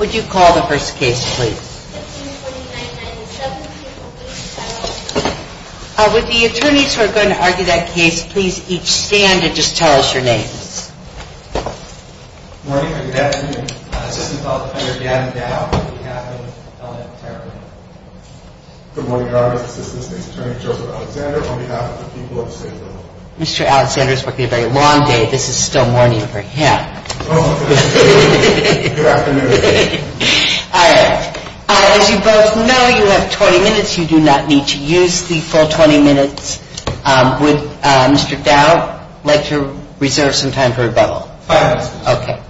Would you call the first case please. With the attorneys who are going to argue that case, please each stand and just tell us your names. Good morning or good afternoon. This is Attorney Gavin Dow on behalf of Ellen Tarrant. Good morning, Your Honor. This is Assistant Attorney Joseph Alexander on behalf of the people of the state of Illinois. Mr. Alexander is working a very long day. This is still morning for him. Good afternoon. All right. As you both know, you have 20 minutes. You do not need to use the full 20 minutes. Would Mr. Dow like to reserve some time for rebuttal? All right. Okay.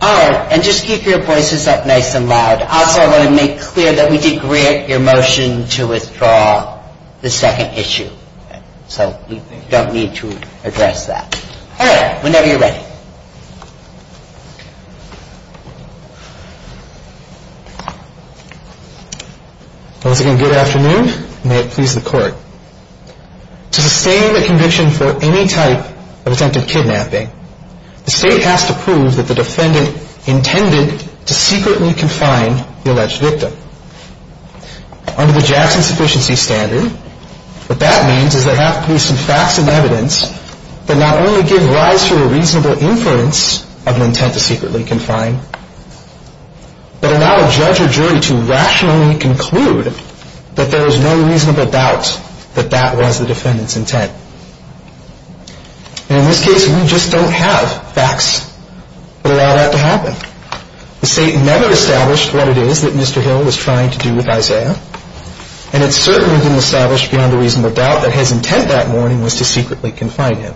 All right. And just keep your voices up nice and loud. Also, I want to make clear that we did grant your motion to withdraw the second issue. So you don't need to address that. All right. Whenever you're ready. Once again, good afternoon. May it please the Court. To sustain a conviction for any type of attempted kidnapping, the state has to prove that the defendant intended to secretly confine the alleged victim. Under the Jackson Sufficiency Standard, what that means is there have to be some facts and evidence that not only give rise to a reasonable inference of an intent to secretly confine, but allow a judge or jury to rationally conclude that there is no reasonable doubt that that was the defendant's intent. And in this case, we just don't have facts that allow that to happen. The state never established what it is that Mr. Hill was trying to do with Isaiah, and it certainly didn't establish beyond a reasonable doubt that his intent that morning was to secretly confine him.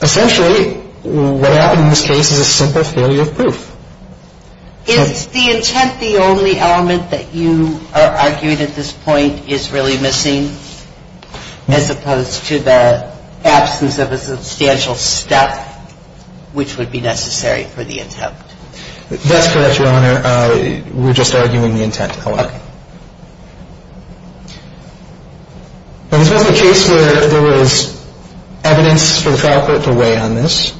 Essentially, what happened in this case is a simple failure of proof. Is the intent the only element that you are arguing at this point is really missing, as opposed to the absence of a substantial step which would be necessary for the attempt? That's correct, Your Honor. We're just arguing the intent. This was a case where there was evidence for the trial court to weigh on this.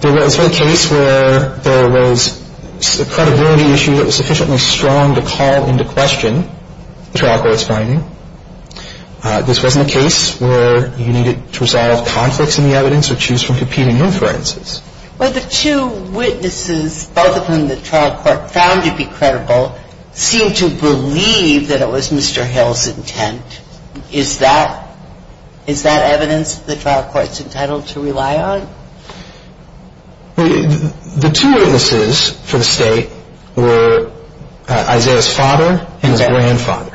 This was a case where there was a credibility issue that was sufficiently strong to call into question the trial court's finding. This wasn't a case where you needed to resolve conflicts in the evidence or choose from competing inferences. Well, the two witnesses, both of whom the trial court found to be credible, seemed to believe that it was Mr. Hill's intent. Is that evidence the trial court's entitled to rely on? The two witnesses for the state were Isaiah's father and his grandfather.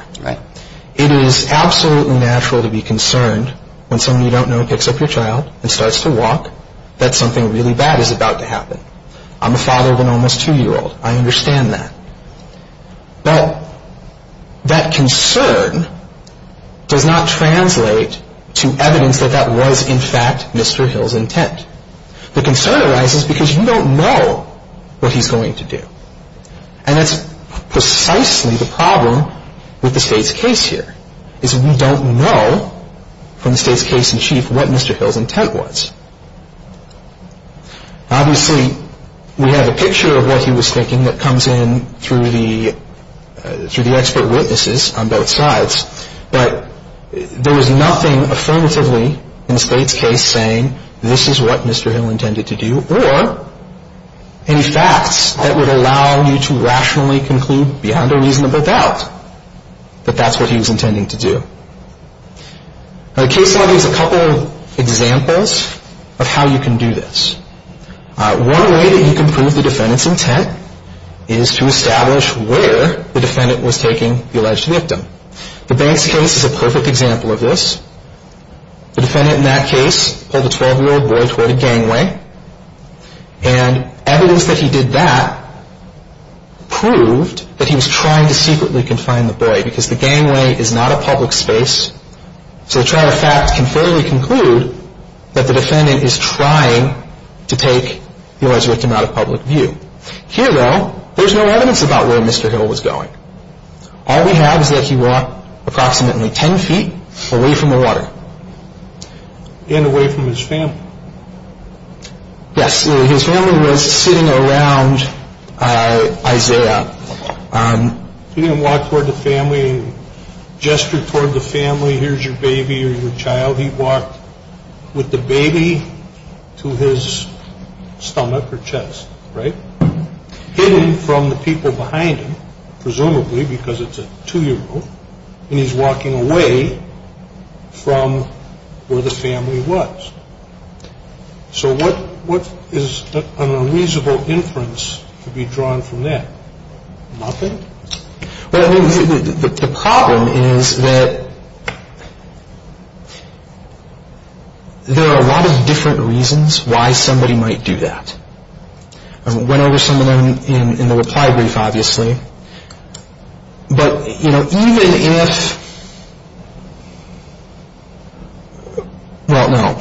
It is absolutely natural to be concerned when someone you don't know picks up your child and starts to walk that something really bad is about to happen. I'm a father of an almost two-year-old. I understand that. Well, that concern does not translate to evidence that that was, in fact, Mr. Hill's intent. The concern arises because you don't know what he's going to do. And that's precisely the problem with the state's case here, is we don't know from the state's case in chief what Mr. Hill's intent was. Obviously, we have a picture of what he was thinking that comes in through the expert witnesses on both sides. But there was nothing affirmatively in the state's case saying this is what Mr. Hill intended to do, or any facts that would allow you to rationally conclude beyond a reasonable doubt that that's what he was intending to do. Now, the case law gives a couple of examples of how you can do this. One way that you can prove the defendant's intent is to establish where the defendant was taking the alleged victim. The Banks case is a perfect example of this. The defendant in that case pulled a 12-year-old boy toward a gangway, and evidence that he did that proved that he was trying to secretly confine the boy because the gangway is not a public space. So the trial of fact can fairly conclude that the defendant is trying to take the alleged victim out of public view. Here, though, there's no evidence about where Mr. Hill was going. All we have is that he walked approximately 10 feet away from the water. And away from his family. Yes. His family was sitting around Isaiah. He didn't walk toward the family and gesture toward the family, here's your baby or your child. He walked with the baby to his stomach or chest, right? Hidden from the people behind him, presumably because it's a 2-year-old, and he's walking away from where the family was. So what is an unreasonable inference to be drawn from that? Nothing? Well, the problem is that there are a lot of different reasons why somebody might do that. I went over some of them in the reply brief, obviously. But, you know, even if, well, no,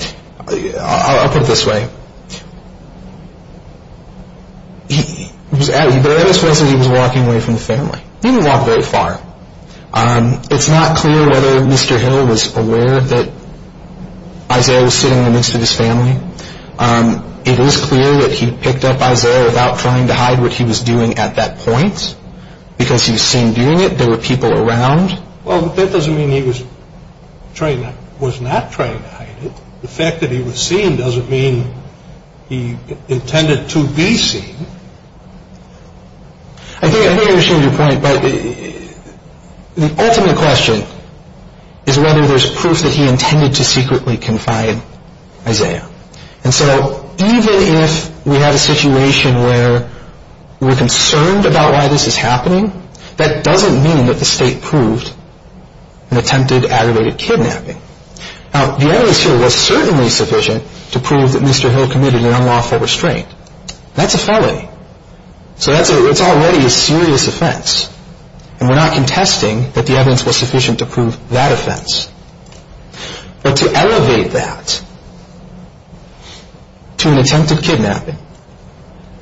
I'll put it this way. He was walking away from the family. He didn't walk very far. It's not clear whether Mr. Hill was aware that Isaiah was sitting in the midst of his family. It is clear that he picked up Isaiah without trying to hide what he was doing at that point, because he was seen doing it. There were people around. Well, that doesn't mean he was not trying to hide it. The fact that he was seen doesn't mean he intended to be seen. I think I understand your point, but the ultimate question is whether there's proof that he intended to secretly confide Isaiah. And so even if we have a situation where we're concerned about why this is happening, that doesn't mean that the state proved an attempted aggravated kidnapping. Now, the evidence here was certainly sufficient to prove that Mr. Hill committed an unlawful restraint. That's a felony. So that's already a serious offense, and we're not contesting that the evidence was sufficient to prove that offense. But to elevate that to an attempted kidnapping,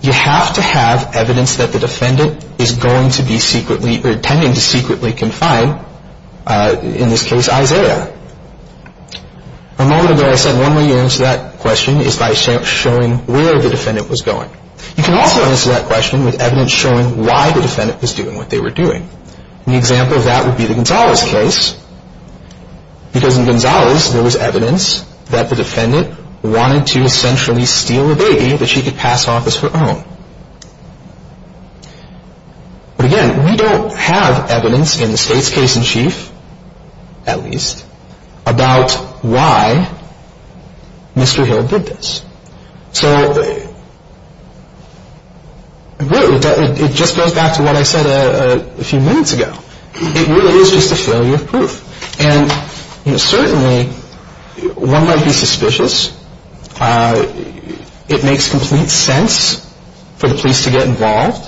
you have to have evidence that the defendant is going to be secretly or intending to secretly confide, in this case, Isaiah. A moment ago I said one way you answer that question is by showing where the defendant was going. You can also answer that question with evidence showing why the defendant was doing what they were doing. An example of that would be the Gonzalez case, because in Gonzalez there was evidence that the defendant wanted to essentially steal a baby that she could pass off as her own. But again, we don't have evidence in the state's case in chief, at least, about why Mr. Hill did this. So I agree with that. It just goes back to what I said a few minutes ago. It really is just a failure of proof. And certainly one might be suspicious. It makes complete sense for the police to get involved.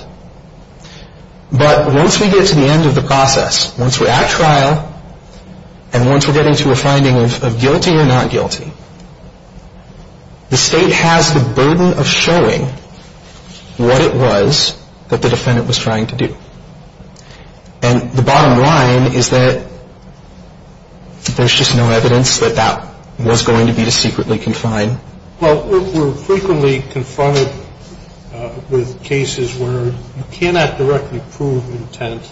But once we get to the end of the process, once we're at trial, and once we're getting to a finding of guilty or not guilty, the state has the burden of showing what it was that the defendant was trying to do. And the bottom line is that there's just no evidence that that was going to be secretly confined. Well, we're frequently confronted with cases where you cannot directly prove intent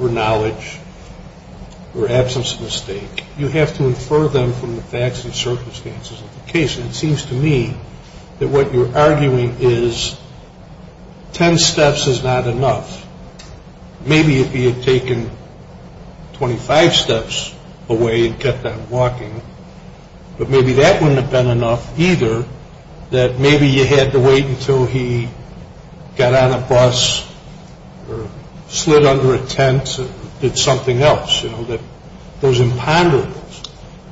or knowledge or absence of mistake. You have to infer them from the facts and circumstances of the case. And it seems to me that what you're arguing is ten steps is not enough. Maybe if he had taken 25 steps away and kept on walking, but maybe that wouldn't have been enough either, that maybe you had to wait until he got on a bus or slid under a tent and did something else. You know, those imponderables.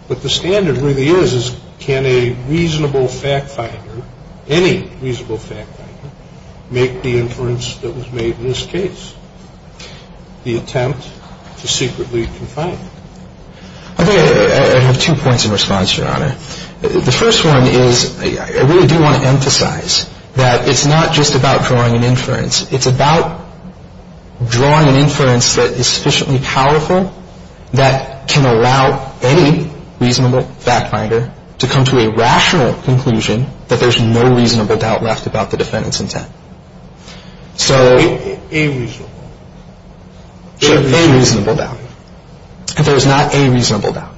But the standard really is, is can a reasonable fact finder, any reasonable fact finder, make the inference that was made in this case, the attempt to secretly confine him? I think I have two points of response, Your Honor. The first one is I really do want to emphasize that it's not just about drawing an inference. It's about drawing an inference that is sufficiently powerful that can allow any reasonable fact finder to come to a rational conclusion that there's no reasonable doubt left about the defendant's intent. So a reasonable doubt. If there was not a reasonable doubt.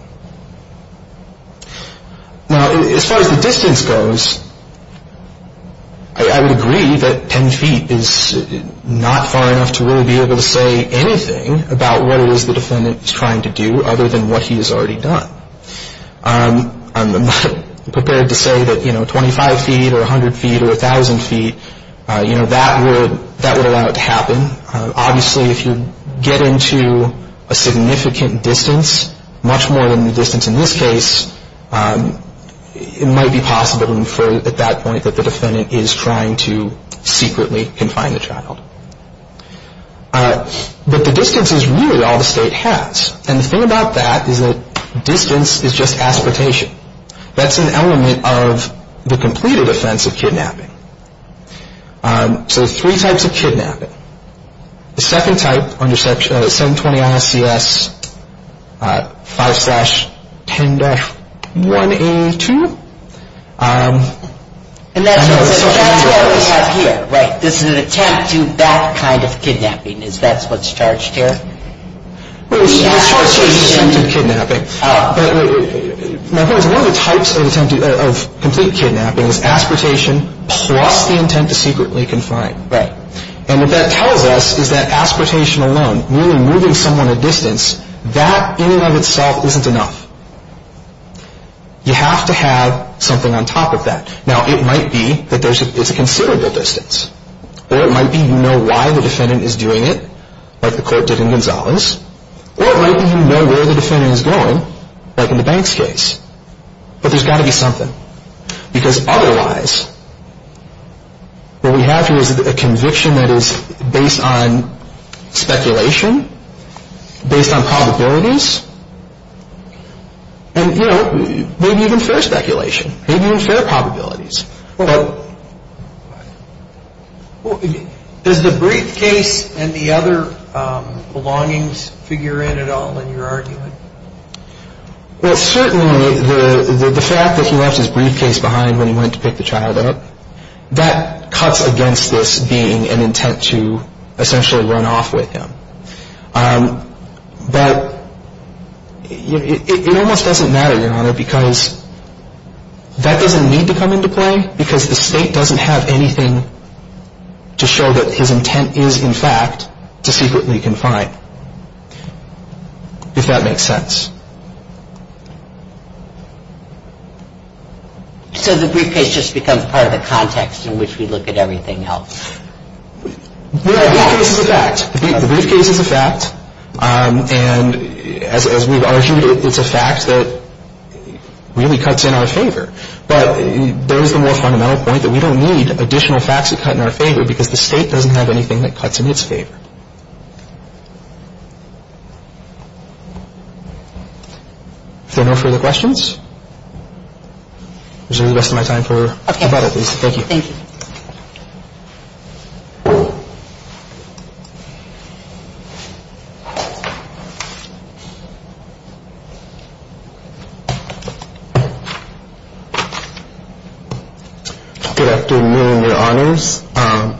Now, as far as the distance goes, I would agree that ten feet is not far enough to really be able to say anything about what it is the defendant is trying to do other than what he has already done. I'm not prepared to say that, you know, 25 feet or 100 feet or 1,000 feet, you know, that would allow it to happen. Obviously, if you get into a significant distance, much more than the distance in this case, it might be possible to infer at that point that the defendant is trying to secretly confine the child. But the distance is really all the state has. And the thing about that is that distance is just aspertation. That's an element of the completed offense of kidnapping. So there's three types of kidnapping. The second type, under section 720-ISCS 5-10-1A2. And that's what we have here. Right. This is an attempt to that kind of kidnapping. Is that what's charged here? Well, it's charged as attempted kidnapping. My point is one of the types of attempted, of complete kidnapping is aspertation plus the intent to secretly confine. Right. And what that tells us is that aspertation alone, really moving someone a distance, that in and of itself isn't enough. You have to have something on top of that. Now, it might be that there's a considerable distance. Or it might be you know why the defendant is doing it, like the court did in Gonzalez. Or it might be you know where the defendant is going, like in the Banks case. But there's got to be something. Because otherwise, what we have here is a conviction that is based on speculation, based on probabilities. And you know, maybe even fair speculation. Maybe even fair probabilities. Well, does the briefcase and the other belongings figure in at all in your argument? Well, certainly the fact that he left his briefcase behind when he went to pick the child up, that cuts against this being an intent to essentially run off with him. But it almost doesn't matter, Your Honor, because that doesn't need to come into play. Because the state doesn't have anything to show that his intent is, in fact, to secretly confine. If that makes sense. So the briefcase just becomes part of the context in which we look at everything else. Well, the briefcase is a fact. The briefcase is a fact. And as we've argued, it's a fact that really cuts in our favor. But there is the more fundamental point that we don't need additional facts that cut in our favor because the state doesn't have anything that cuts in its favor. Is there no further questions? Is there any rest of my time? Okay. Thank you. Thank you. Good afternoon, Your Honors.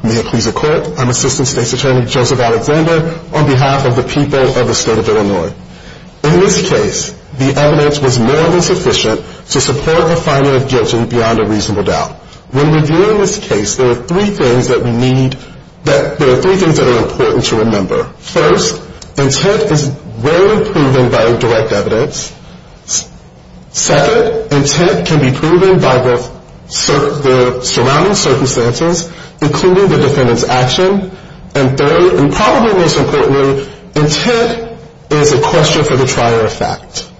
May it please the Court. I'm Assistant State's Attorney Joseph Alexander on behalf of the people of the state of Illinois. In this case, the evidence was more than sufficient to support the finding of guilt beyond a reasonable doubt. When reviewing this case, there are three things that are important to remember. First, intent is rarely proven by direct evidence. Second, intent can be proven by both the surrounding circumstances, including the defendant's action. And third, and probably most importantly, intent is a question for the trier of fact.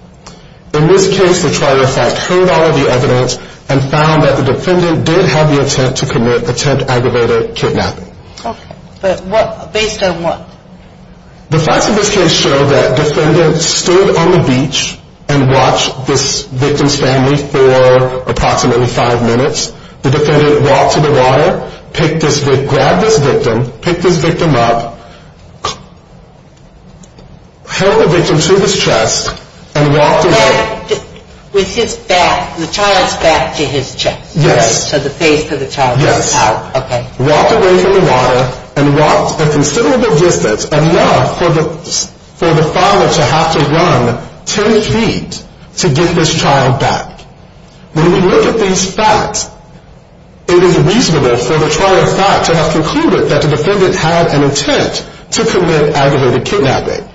In this case, the trier of fact heard all of the evidence and found that the defendant did have the attempt to commit attempt aggravated kidnapping. Okay. But based on what? The facts of this case show that the defendant stood on the beach and watched this victim's family for approximately five minutes. The defendant walked to the water, grabbed this victim, picked this victim up, held the victim to his chest and walked away. With his back, the child's back to his chest. Yes. So the face of the child was out. Yes. Okay. Walked away from the water and walked a considerable distance, enough for the father to have to run ten feet to get this child back. When we look at these facts, it is reasonable for the trier of fact to have concluded that the defendant had an intent to commit aggravated kidnapping.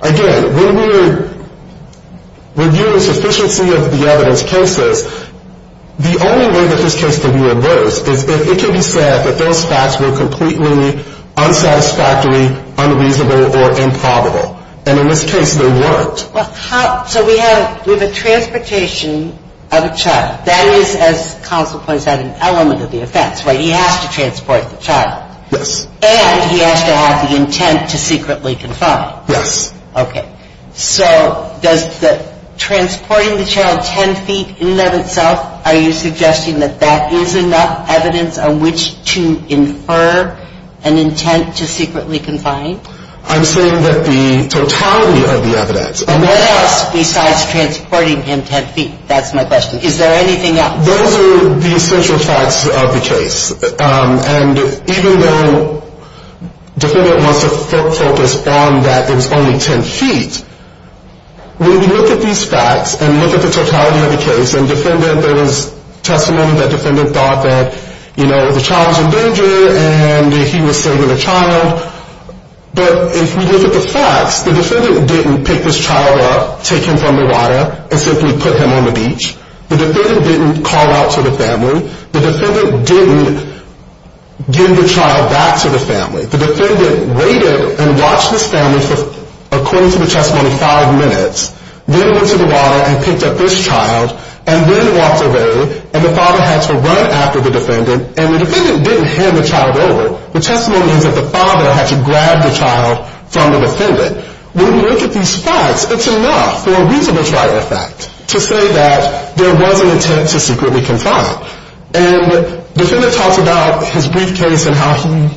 Again, when we're reviewing sufficiency of the evidence cases, the only way that this case can be reversed is if it can be said that those facts were completely unsatisfactory, unreasonable or improbable. And in this case, they weren't. So we have a transportation of a child. That is, as counsel points out, an element of the offense, right? He has to transport the child. Yes. And he has to have the intent to secretly confine. Yes. Okay. So does transporting the child ten feet in and of itself, are you suggesting that that is enough evidence on which to infer an intent to secretly confine? I'm saying that the totality of the evidence. And what else besides transporting him ten feet? That's my question. Is there anything else? Those are the essential facts of the case. And even though the defendant wants to focus on that it was only ten feet, when we look at these facts and look at the totality of the case, and there was testimony that the defendant thought that, you know, the child was in danger and he was saving the child. But if we look at the facts, the defendant didn't pick this child up, take him from the water, and simply put him on the beach. The defendant didn't call out to the family. The defendant didn't give the child back to the family. The defendant waited and watched this family for, according to the testimony, five minutes, then went to the water and picked up this child, and then walked away, and the father had to run after the defendant, and the defendant didn't hand the child over. The testimony is that the father had to grab the child from the defendant. When we look at these facts, it's enough for a reasonable triad fact to say that there was an intent to secretly confine. And the defendant talks about his briefcase and how he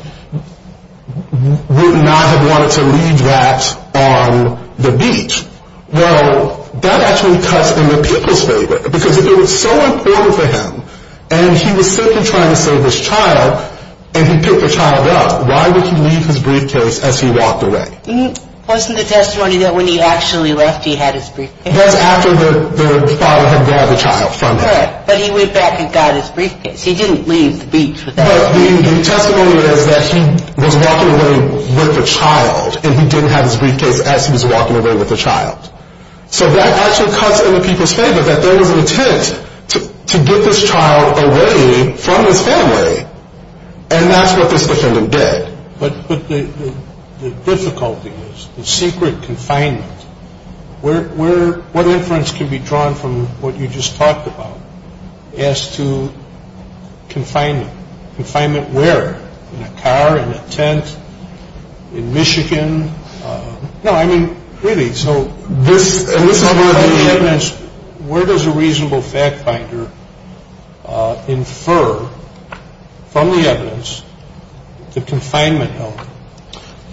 would not have wanted to leave that on the beach. Well, that actually cuts in the people's favor. Because if it was so important for him, and he was simply trying to save his child, and he picked the child up, why would he leave his briefcase as he walked away? Wasn't the testimony that when he actually left, he had his briefcase? That's after the father had grabbed the child from him. Right, but he went back and got his briefcase. He didn't leave the beach without it. But the testimony is that he was walking away with the child, and he didn't have his briefcase as he was walking away with the child. So that actually cuts in the people's favor that there was an intent to get this child away from his family. And that's what this defendant did. But the difficulty is the secret confinement. What inference can be drawn from what you just talked about as to confinement? Confinement where? In a car? In a tent? In Michigan? No, I mean, really, so this is where the evidence, where does a reasonable fact finder infer from the evidence the confinement element?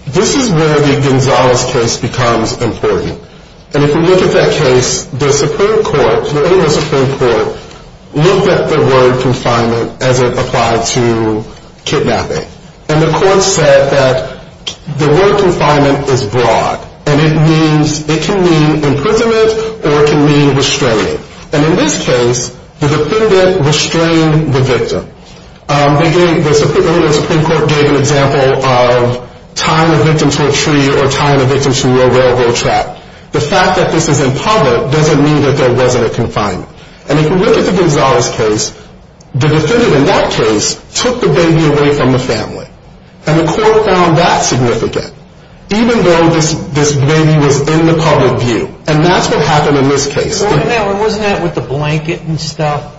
This is where the Gonzales case becomes important. And if you look at that case, the Supreme Court, the Illinois Supreme Court, looked at the word confinement as it applied to kidnapping. And the court said that the word confinement is broad, and it can mean imprisonment or it can mean restraining. And in this case, the defendant restrained the victim. Again, the Illinois Supreme Court gave an example of tying a victim to a tree or tying a victim to a railroad track. The fact that this is in public doesn't mean that there wasn't a confinement. And if you look at the Gonzales case, the defendant in that case took the baby away from the family. And the court found that significant, even though this baby was in the public view. And that's what happened in this case. Wasn't that with the blanket and stuff?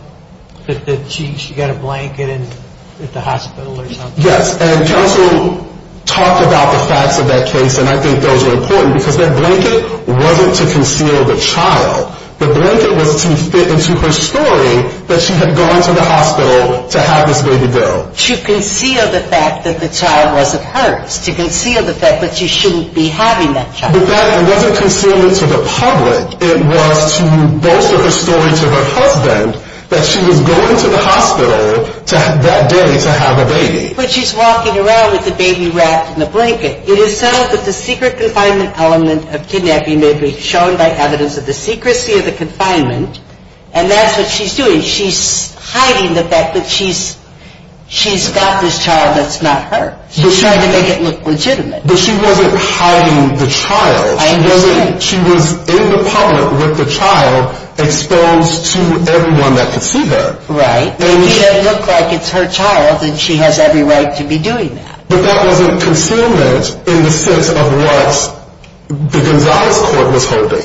She got a blanket at the hospital or something? Yes, and counsel talked about the facts of that case, and I think those are important because that blanket wasn't to conceal the child. The blanket was to fit into her story that she had gone to the hospital to have this baby built. To conceal the fact that the child wasn't hers, to conceal the fact that she shouldn't be having that child. But that wasn't concealment to the public. It was to bolster her story to her husband that she was going to the hospital that day to have a baby. But she's walking around with the baby wrapped in the blanket. It is said that the secret confinement element of kidnapping may be shown by evidence of the secrecy of the confinement, and that's what she's doing. She's hiding the fact that she's got this child that's not hers. She's trying to make it look legitimate. But she wasn't hiding the child. I understand. She was in the public with the child exposed to everyone that could see her. Right. It made it look like it's her child and she has every right to be doing that. But that wasn't concealment in the sense of what the Gonzales court was holding.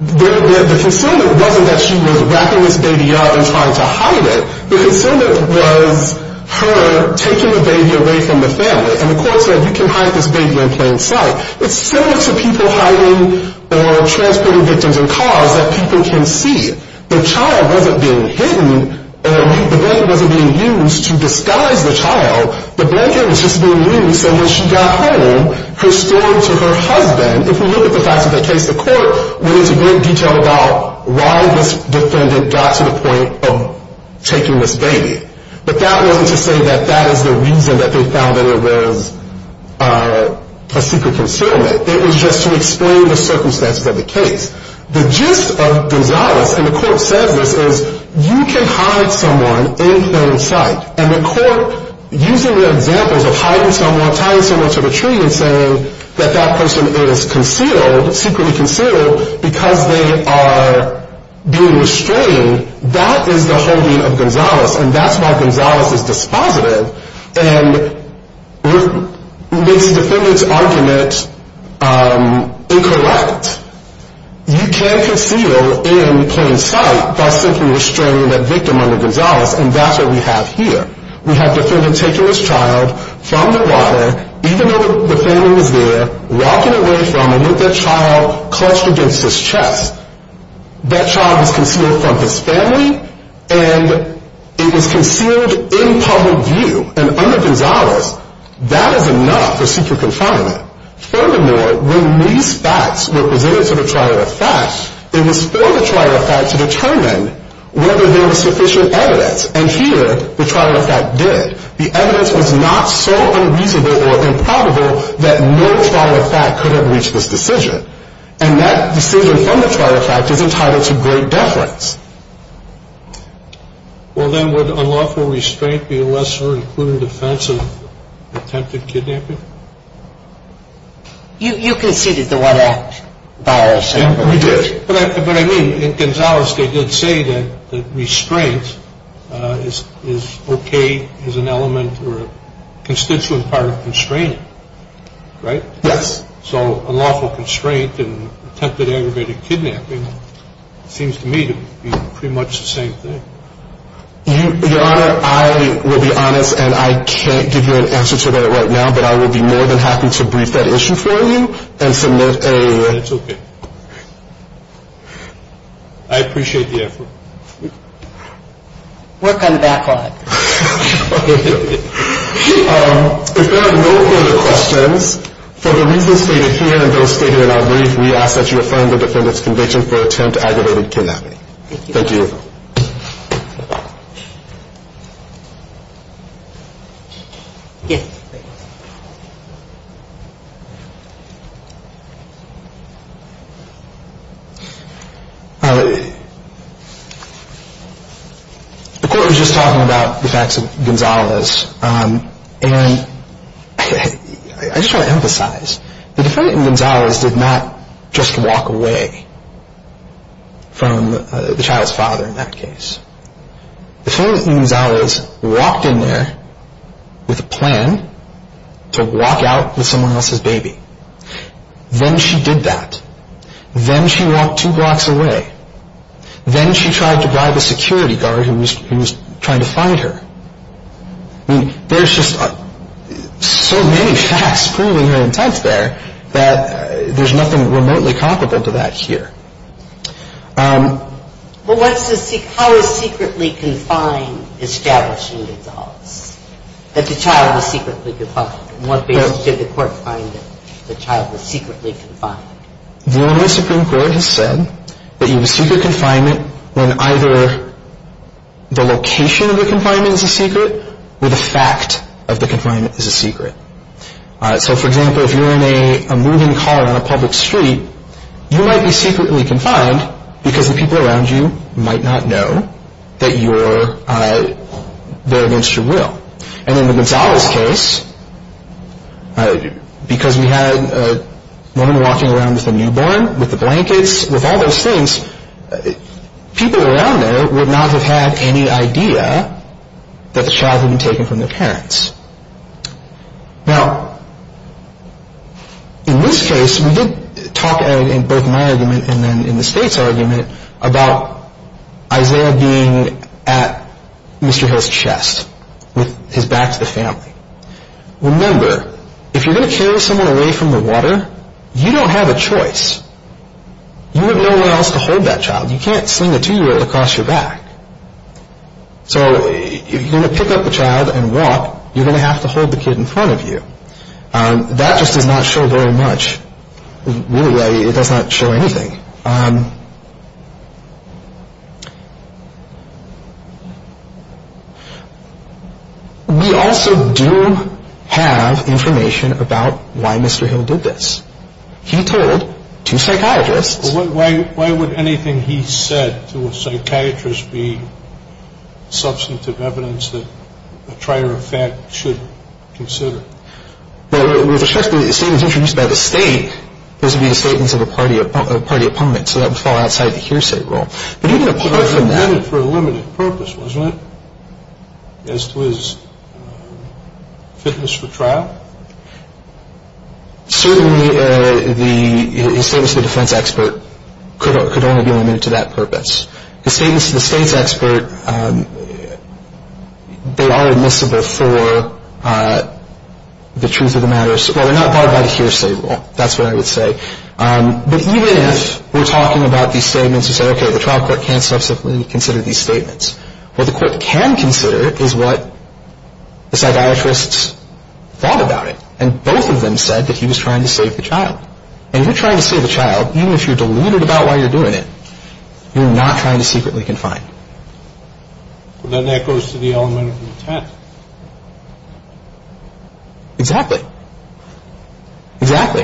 The concealment wasn't that she was wrapping this baby up and trying to hide it. The concealment was her taking the baby away from the family. And the court said, you can hide this baby in plain sight. It's similar to people hiding or transporting victims in cars that people can see. The child wasn't being hidden. The blanket wasn't being used to disguise the child. The blanket was just being used so when she got home, her story to her husband, if you look at the facts of that case, the court went into great detail about why this defendant got to the point of taking this baby. But that wasn't to say that that is the reason that they found that it was a secret concealment. It was just to explain the circumstances of the case. The gist of Gonzales, and the court says this, is you can hide someone in plain sight. And the court, using the examples of hiding someone, tying someone to the tree and saying that that person is concealed, secretly concealed, because they are being restrained, that is the holding of Gonzales, and that's why Gonzales is dispositive. And it makes the defendant's argument incorrect. You can conceal in plain sight by simply restraining that victim under Gonzales, and that's what we have here. We have the defendant taking his child from the water, even though the family was there, walking away from him with that child clutched against his chest. That child is concealed from his family, and it was concealed in public view. And under Gonzales, that is enough for secret confinement. Furthermore, when these facts were presented to the trial of facts, it was for the trial of facts to determine whether there was sufficient evidence, and here the trial of fact did. The evidence was not so unreasonable or improbable that no trial of fact could have reached this decision. And that decision from the trial of fact is entitled to great deference. Well, then would unlawful restraint be a lesser, including defense, of attempted kidnapping? You conceded the one-act violation. We did. But I mean, in Gonzales, they did say that restraint is okay as an element or a constituent part of constraining, right? Yes. So unlawful constraint in attempted aggravated kidnapping seems to me to be pretty much the same thing. Your Honor, I will be honest, and I can't give you an answer to that right now, but I will be more than happy to brief that issue for you and submit a- It's okay. I appreciate the effort. Work on the backlog. If there are no further questions, for the reasons stated here and those stated in our brief, we ask that you affirm the defendant's conviction for attempt aggravated kidnapping. Thank you. Thank you. Yes, please. The court was just talking about the facts of Gonzales, and I just want to emphasize, the defendant in Gonzales did not just walk away from the child's father in that case. The defendant in Gonzales walked in there with a plan to walk out with someone else's baby. Then she did that. Then she walked two blocks away. Then she tried to bribe a security guard who was trying to find her. I mean, there's just so many facts proving her intent there that there's nothing remotely comparable to that here. Well, how is secretly confined establishing Gonzales? That the child was secretly confined? In what basis did the court find that the child was secretly confined? The Illinois Supreme Court has said that you have a secret confinement when either the location of the confinement is a secret or the fact of the confinement is a secret. So, for example, if you're in a moving car on a public street, you might be secretly confined because the people around you might not know that you're there against your will. And in the Gonzales case, because we had a woman walking around with a newborn, with the blankets, with all those things, people around there would not have had any idea that the child had been taken from their parents. Now, in this case, we did talk in both my argument and then in the state's argument about Isaiah being at Mr. Hill's chest with his back to the family. Remember, if you're going to carry someone away from the water, you don't have a choice. You have nowhere else to hold that child. You can't sling a two-year-old across your back. So, if you're going to pick up a child and walk, you're going to have to hold the kid in front of you. That just does not show very much. Really, it does not show anything. We also do have information about why Mr. Hill did this. He told two psychiatrists... Why would anything he said to a psychiatrist be substantive evidence that a trier of fact should consider? Well, with respect to the statements introduced by the state, those would be the statements of a party opponent, so that would fall outside the hearsay rule. But even apart from that... But he did it for a limited purpose, wasn't it, as to his fitness for trial? Certainly, his statements to the defense expert could only be limited to that purpose. His statements to the state's expert, they are admissible for the truth of the matter. Well, they're not brought by the hearsay rule, that's what I would say. But even if we're talking about these statements and say, okay, the trial court can't substantively consider these statements, what the court can consider is what the psychiatrists thought about it, and both of them said that he was trying to save the child. And if you're trying to save a child, even if you're deluded about why you're doing it, you're not trying to secretly confine. Then that goes to the element of intent. Exactly. Exactly.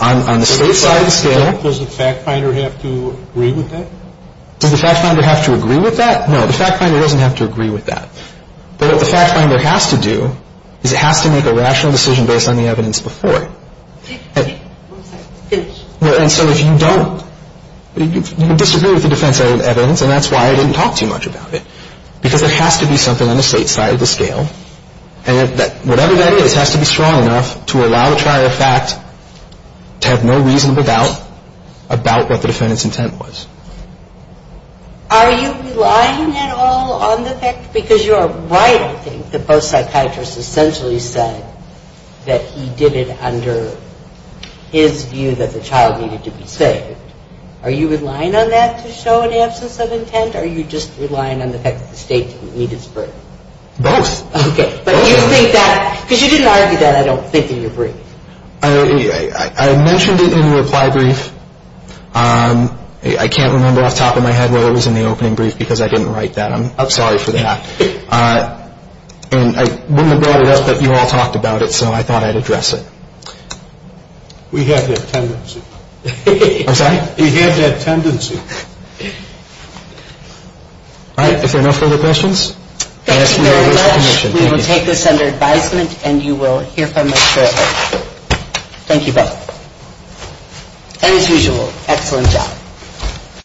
On the state side of the scale... Does the fact finder have to agree with that? Does the fact finder have to agree with that? No, the fact finder doesn't have to agree with that. But what the fact finder has to do is it has to make a rational decision based on the evidence before it. And so if you don't, you disagree with the defense evidence, and that's why I didn't talk too much about it, because there has to be something on the state side of the scale, and whatever that is has to be strong enough to allow the trial to have no reasonable doubt about what the defendant's intent was. Are you relying at all on the fact, because you're right, I think, that both psychiatrists essentially said that he did it under his view that the child needed to be saved. Or are you just relying on the fact that the state didn't need his brief? Both. Okay. But you think that, because you didn't argue that, I don't think, in your brief. I mentioned it in the reply brief. I can't remember off the top of my head whether it was in the opening brief, because I didn't write that. I'm sorry for that. And I wouldn't have brought it up, but you all talked about it, so I thought I'd address it. We have that tendency. I'm sorry? We have that tendency. All right. If there are no further questions. Thank you very much. We will take this under advisement, and you will hear from the jury. Thank you both. As usual, excellent job.